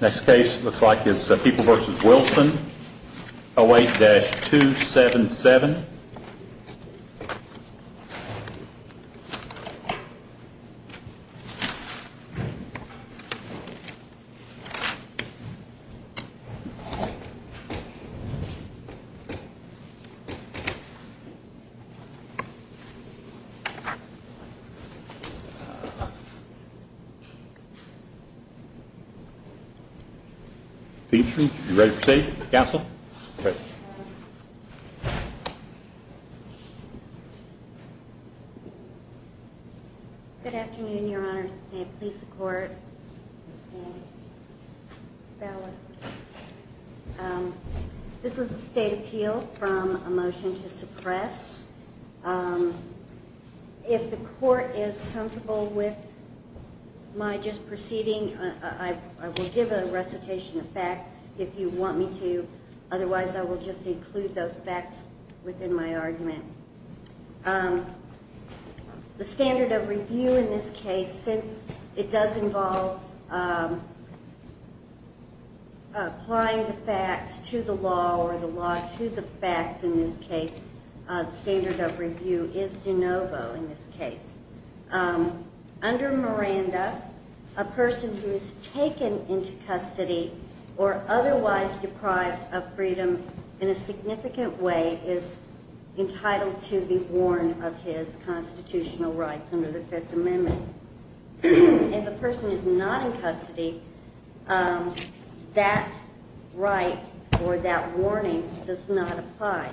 Next case looks like is People v. Wilson, 08-277. Beanton. Are you ready for fate? Please support the abstentions. I am not as comfortable with my just proceeding. I will give a recitation of facts if you want me to, otherwise I will just include those facts within my argument. The standard of review in this case, since it does involve applying the facts to the law or the law to the facts in this case, the standard of review is de novo in this case. Under Miranda, a person who is taken into custody or otherwise deprived of freedom in a significant way is entitled to be warned of his constitutional rights under the Fifth Amendment. If a person is not in custody, that right or that warning does not apply.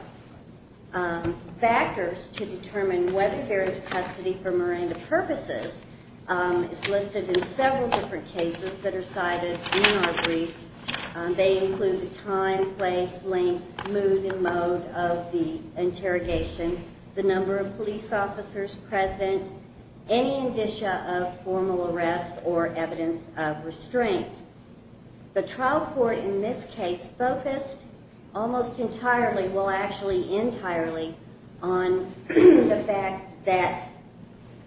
Factors to determine whether there is custody for Miranda purposes is listed in several different cases that are cited in our brief. They include the time, place, length, mood and mode of the interrogation, the number of police officers present, any indicia of formal arrest or evidence of restraint. The trial court in this case focused almost entirely, well actually entirely, on the fact that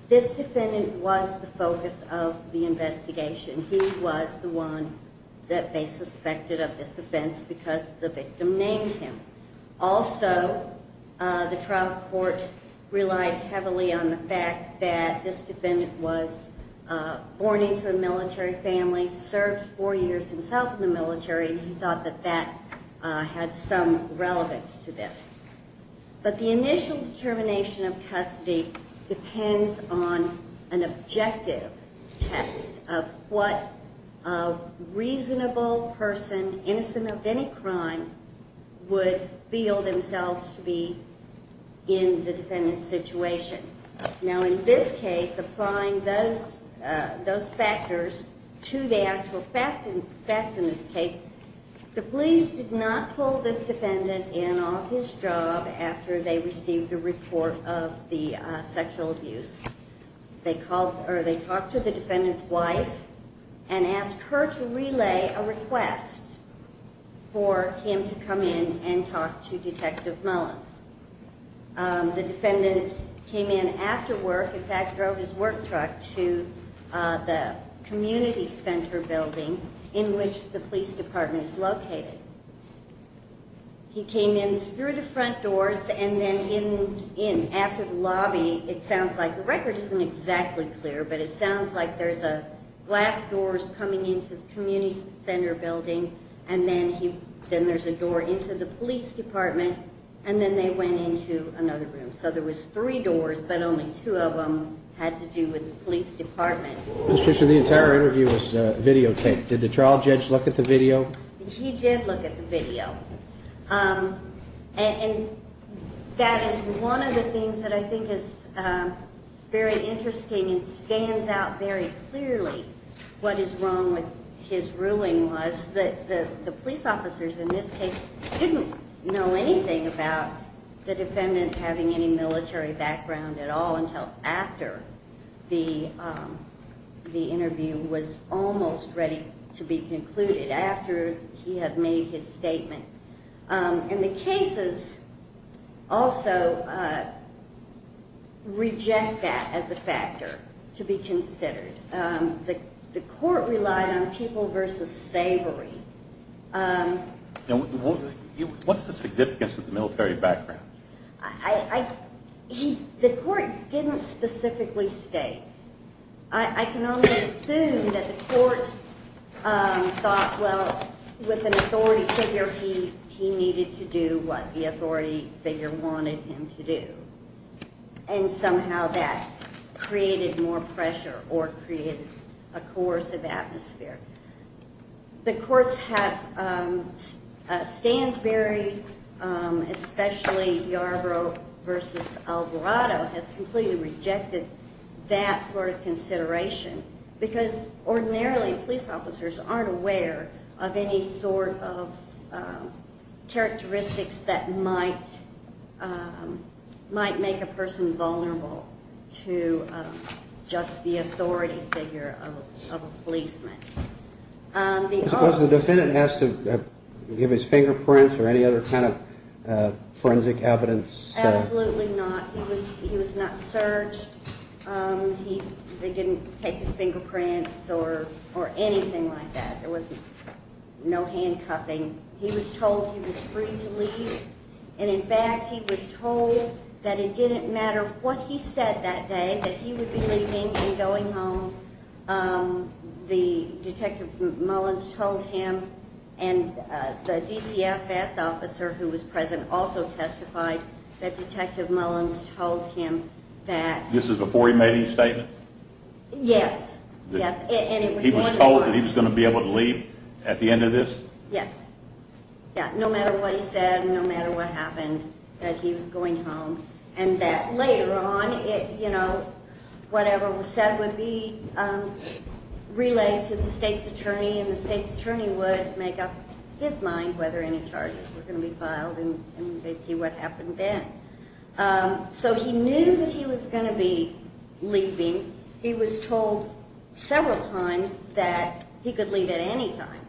this defendant was the focus of the investigation. He was the one that they suspected of this offense because the victim named him. Also, the trial court relied heavily on the fact that this defendant was born into a military family, served four years himself in the military, and he thought that that had some relevance to this. But the initial determination of custody depends on an objective test of what a reasonable person, innocent of any crime, would feel themselves to be in the defendant's situation. Now in this case, applying those factors to the actual facts in this case, the police did not pull this defendant in off his job after they received the report of the sexual abuse. They talked to the defendant's wife and asked her to relay a request for him to come in and talk to Detective Mullins. The defendant came in after work, in fact drove his work truck to the community center building in which the police department is located. He came in through the front doors and then in after the lobby, it sounds like, the record isn't exactly clear, but it sounds like there's glass doors coming into the community center building, and then there's a door into the police department, and then they went into another room. So there was three doors, but only two of them had to do with the police department. Mr. Fisher, the entire interview was videotaped. Did the trial judge look at the video? He did look at the video, and that is one of the things that I think is very interesting and scans out very clearly what is wrong with his ruling was that the police officers in this case didn't know anything about the defendant having any military background at all until after the interview was almost ready to be concluded, after he had made his statement. And the cases also reject that as a factor to be considered. The court relied on people versus slavery. What's the significance of the military background? The court didn't specifically state. I can only assume that the court thought, well, with an authority figure, he needed to do what the authority figure wanted him to do. And somehow that created more pressure or created a coercive atmosphere. The courts have, Stansberry, especially Yarbrough versus Alvarado, has completely rejected that sort of consideration Was the defendant asked to give his fingerprints or any other kind of forensic evidence? Absolutely not. He was not searched. They didn't take his fingerprints or anything like that. There was no handcuffing. He was told he was free to leave. And in fact, he was told that it didn't matter what he said that day, that he would be leaving and going home. The Detective Mullins told him and the DCFS officer who was present also testified that Detective Mullins told him that This is before he made his statement? Yes. He was told that he was going to be able to leave at the end of this? Yes. No matter what he said, no matter what happened, that he was going home. And that later on, you know, whatever was said would be relayed to the state's attorney and the state's attorney would make up his mind whether any charges were going to be filed and they'd see what happened then. So he knew that he was going to be leaving. He was told several times that he could leave at any time.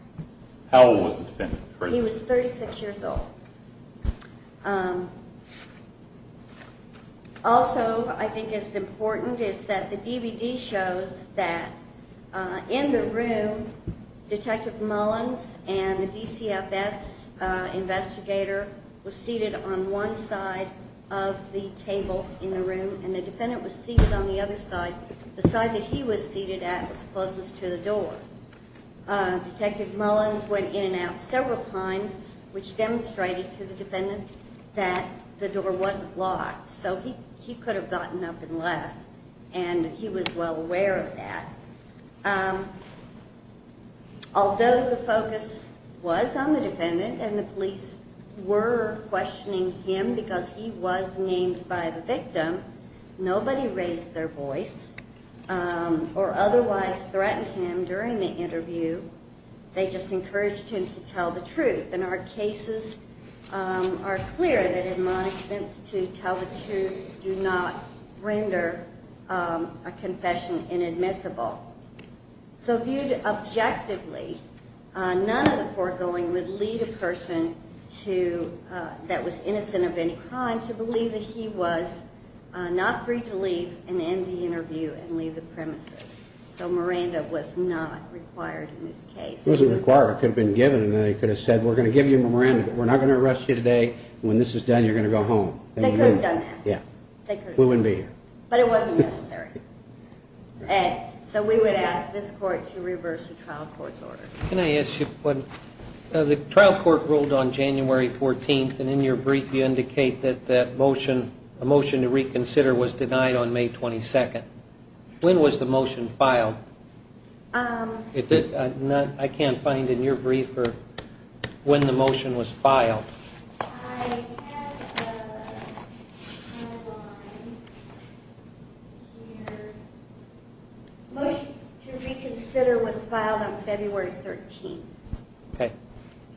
How old was the defendant? He was 36 years old. Also, I think it's important is that the DVD shows that in the room, Detective Mullins and the DCFS investigator were seated on one side of the table in the room and the defendant was seated on the other side. The side that he was seated at was closest to the door. Detective Mullins went in and out several times, which demonstrated to the defendant that the door was locked. So he could have gotten up and left and he was well aware of that. Although the focus was on the defendant and the police were questioning him because he was named by the victim, nobody raised their voice or otherwise threatened him during the interview. They just encouraged him to tell the truth. And our cases are clear that admonishments to tell the truth do not render a confession inadmissible. So viewed objectively, none of the foregoing would lead a person that was innocent of any crime to believe that he was not free to leave and end the interview and leave the premises. So Miranda was not required in this case. She wasn't required. It could have been given and they could have said, we're going to give you Miranda. We're not going to arrest you today. When this is done, you're going to go home. They could have done that. We wouldn't be here. But it wasn't necessary. So we would ask this court to reverse the trial court's order. Can I ask you, the trial court ruled on January 14th and in your brief you indicate that a motion to reconsider was denied on May 22nd. When was the motion filed? I can't find in your brief when the motion was filed. I have the timeline here. The motion to reconsider was filed on February 13th. Okay.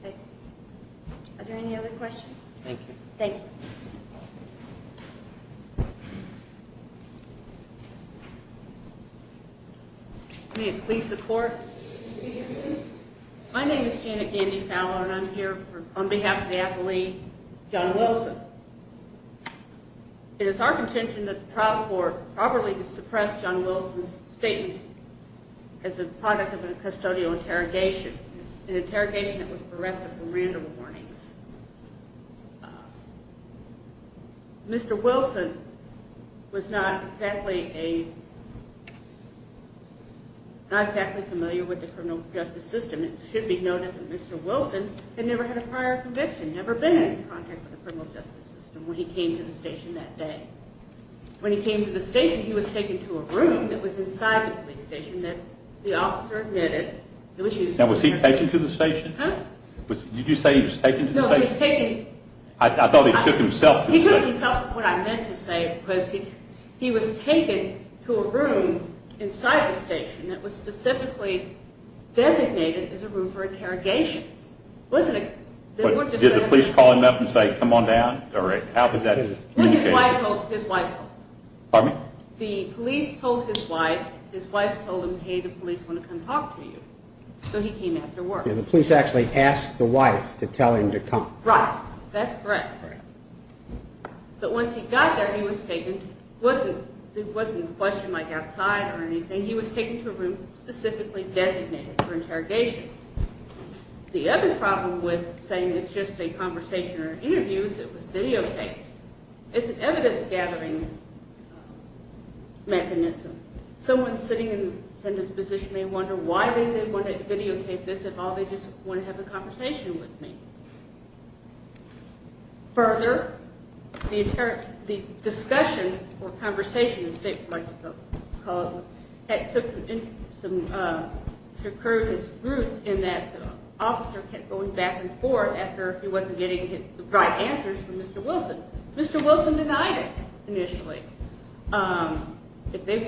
Okay. Are there any other questions? Thank you. May it please the court. My name is Janet Gandy Fowler and I'm here on behalf of the athlete John Wilson. It is our contention that the trial court properly suppressed John Wilson's statement as a product of a custodial interrogation, an interrogation that was directed for Miranda warnings. Mr. Wilson was not exactly a, not exactly familiar with the criminal justice system. It should be noted that Mr. Wilson had never had a prior conviction, never been in contact with the criminal justice system when he came to the station that day. When he came to the station, he was taken to a room that was inside the police station that the officer admitted. Now was he taken to the station? Did you say he was taken to the station? No, he was taken. I thought he took himself to the station. He took himself to the station. What I meant to say was he was taken to a room inside the station that was specifically designated as a room for interrogations. Did the police call him up and say come on down? Or how did that communicate? His wife told him. Pardon me? The police told his wife. His wife told him, hey, the police want to come talk to you. So he came after work. The police actually asked the wife to tell him to come. Right. That's correct. But once he got there, he was taken. It wasn't a question like outside or anything. He was taken to a room specifically designated for interrogations. The other problem with saying it's just a conversation or an interview is it was videotaped. It's an evidence gathering mechanism. Someone sitting in this position may wonder why they would want to videotape this at all. They just want to have a conversation with me. Further, the discussion or conversation, as the state would like to call it, took some circumstantial roots in that the officer kept going back and forth after he wasn't getting the right answers from Mr. Wilson. Mr. Wilson denied it initially. If they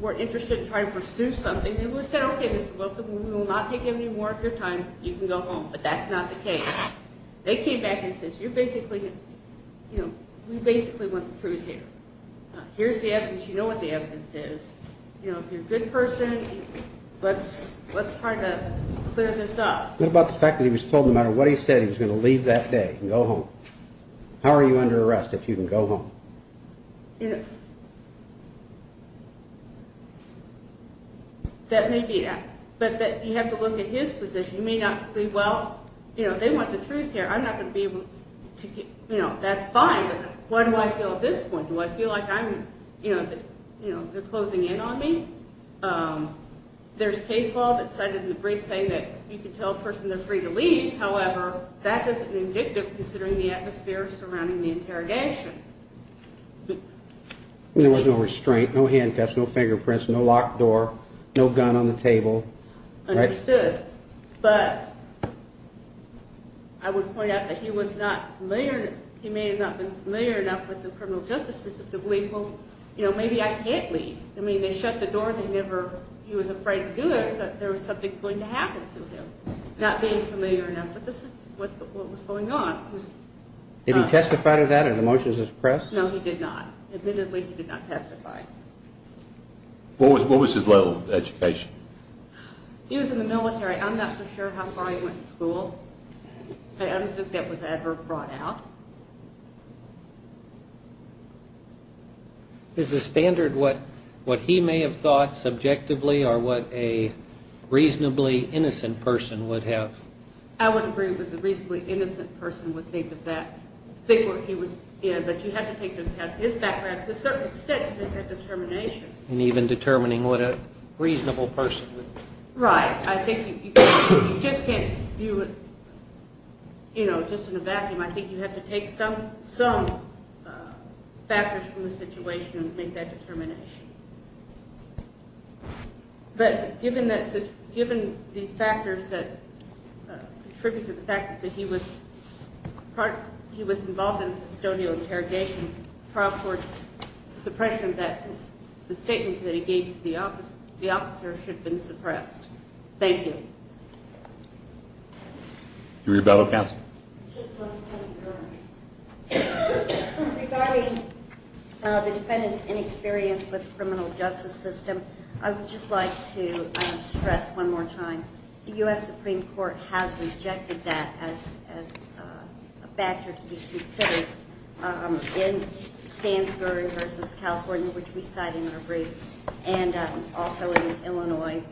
were interested in trying to pursue something, they would have said, okay, Mr. Wilson, we will not take any more of your time. You can go home. But that's not the case. They came back and said, you're basically, you know, we basically want the truth here. Here's the evidence. You know what the evidence is. You know, if you're a good person, let's try to clear this up. What about the fact that he was told no matter what he said, he was going to leave that day and go home? How are you under arrest if you can go home? You know, that may be, but you have to look at his position. You may not be, well, you know, they want the truth here. I'm not going to be able to, you know, that's fine. But why do I feel at this point? Do I feel like I'm, you know, they're closing in on me? There's case law that's cited in the brief saying that you can tell a person they're free to leave. However, that doesn't vindictive considering the atmosphere surrounding the interrogation. There was no restraint, no handcuffs, no fingerprints, no locked door, no gun on the table. Understood. But I would point out that he was not familiar. He may not have been familiar enough with the criminal justice system to believe, well, you know, maybe I can't leave. I mean, they shut the door. They never, he was afraid to do it because there was something going to happen to him. Not being familiar enough with what was going on. Did he testify to that in the motions of the press? No, he did not. Admittedly, he did not testify. What was his level of education? He was in the military. I'm not so sure how far he went to school. I don't think that was ever brought out. Is the standard what he may have thought subjectively or what a reasonably innocent person would have? I would agree with the reasonably innocent person would think that that, think what he was in. But you have to take into account his background to a certain extent to make that determination. And even determining what a reasonable person would. Right. I think you just can't do it, you know, just in a vacuum. I think you have to take some factors from the situation and make that determination. But given these factors that contribute to the fact that he was involved in custodial interrogation, trial court's suppression that the statement that he gave to the officer should have been suppressed. Thank you. Your rebuttal counsel. Just one point regarding the defendant's inexperience with the criminal justice system. I would just like to stress one more time. The U.S. Supreme Court has rejected that as a factor to be considered in Stansbury v. California, which we cite in our brief, and also in Illinois,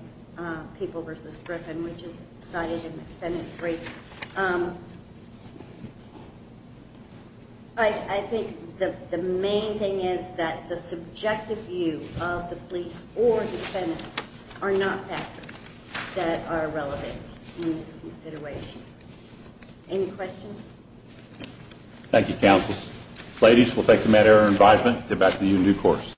People v. Griffin, which is cited in the defendant's brief. I think the main thing is that the subjective view of the police or defendant are not factors that are relevant in this consideration. Any questions? Thank you, counsel. Ladies, we'll take the matter under advisement and get back to you in due course.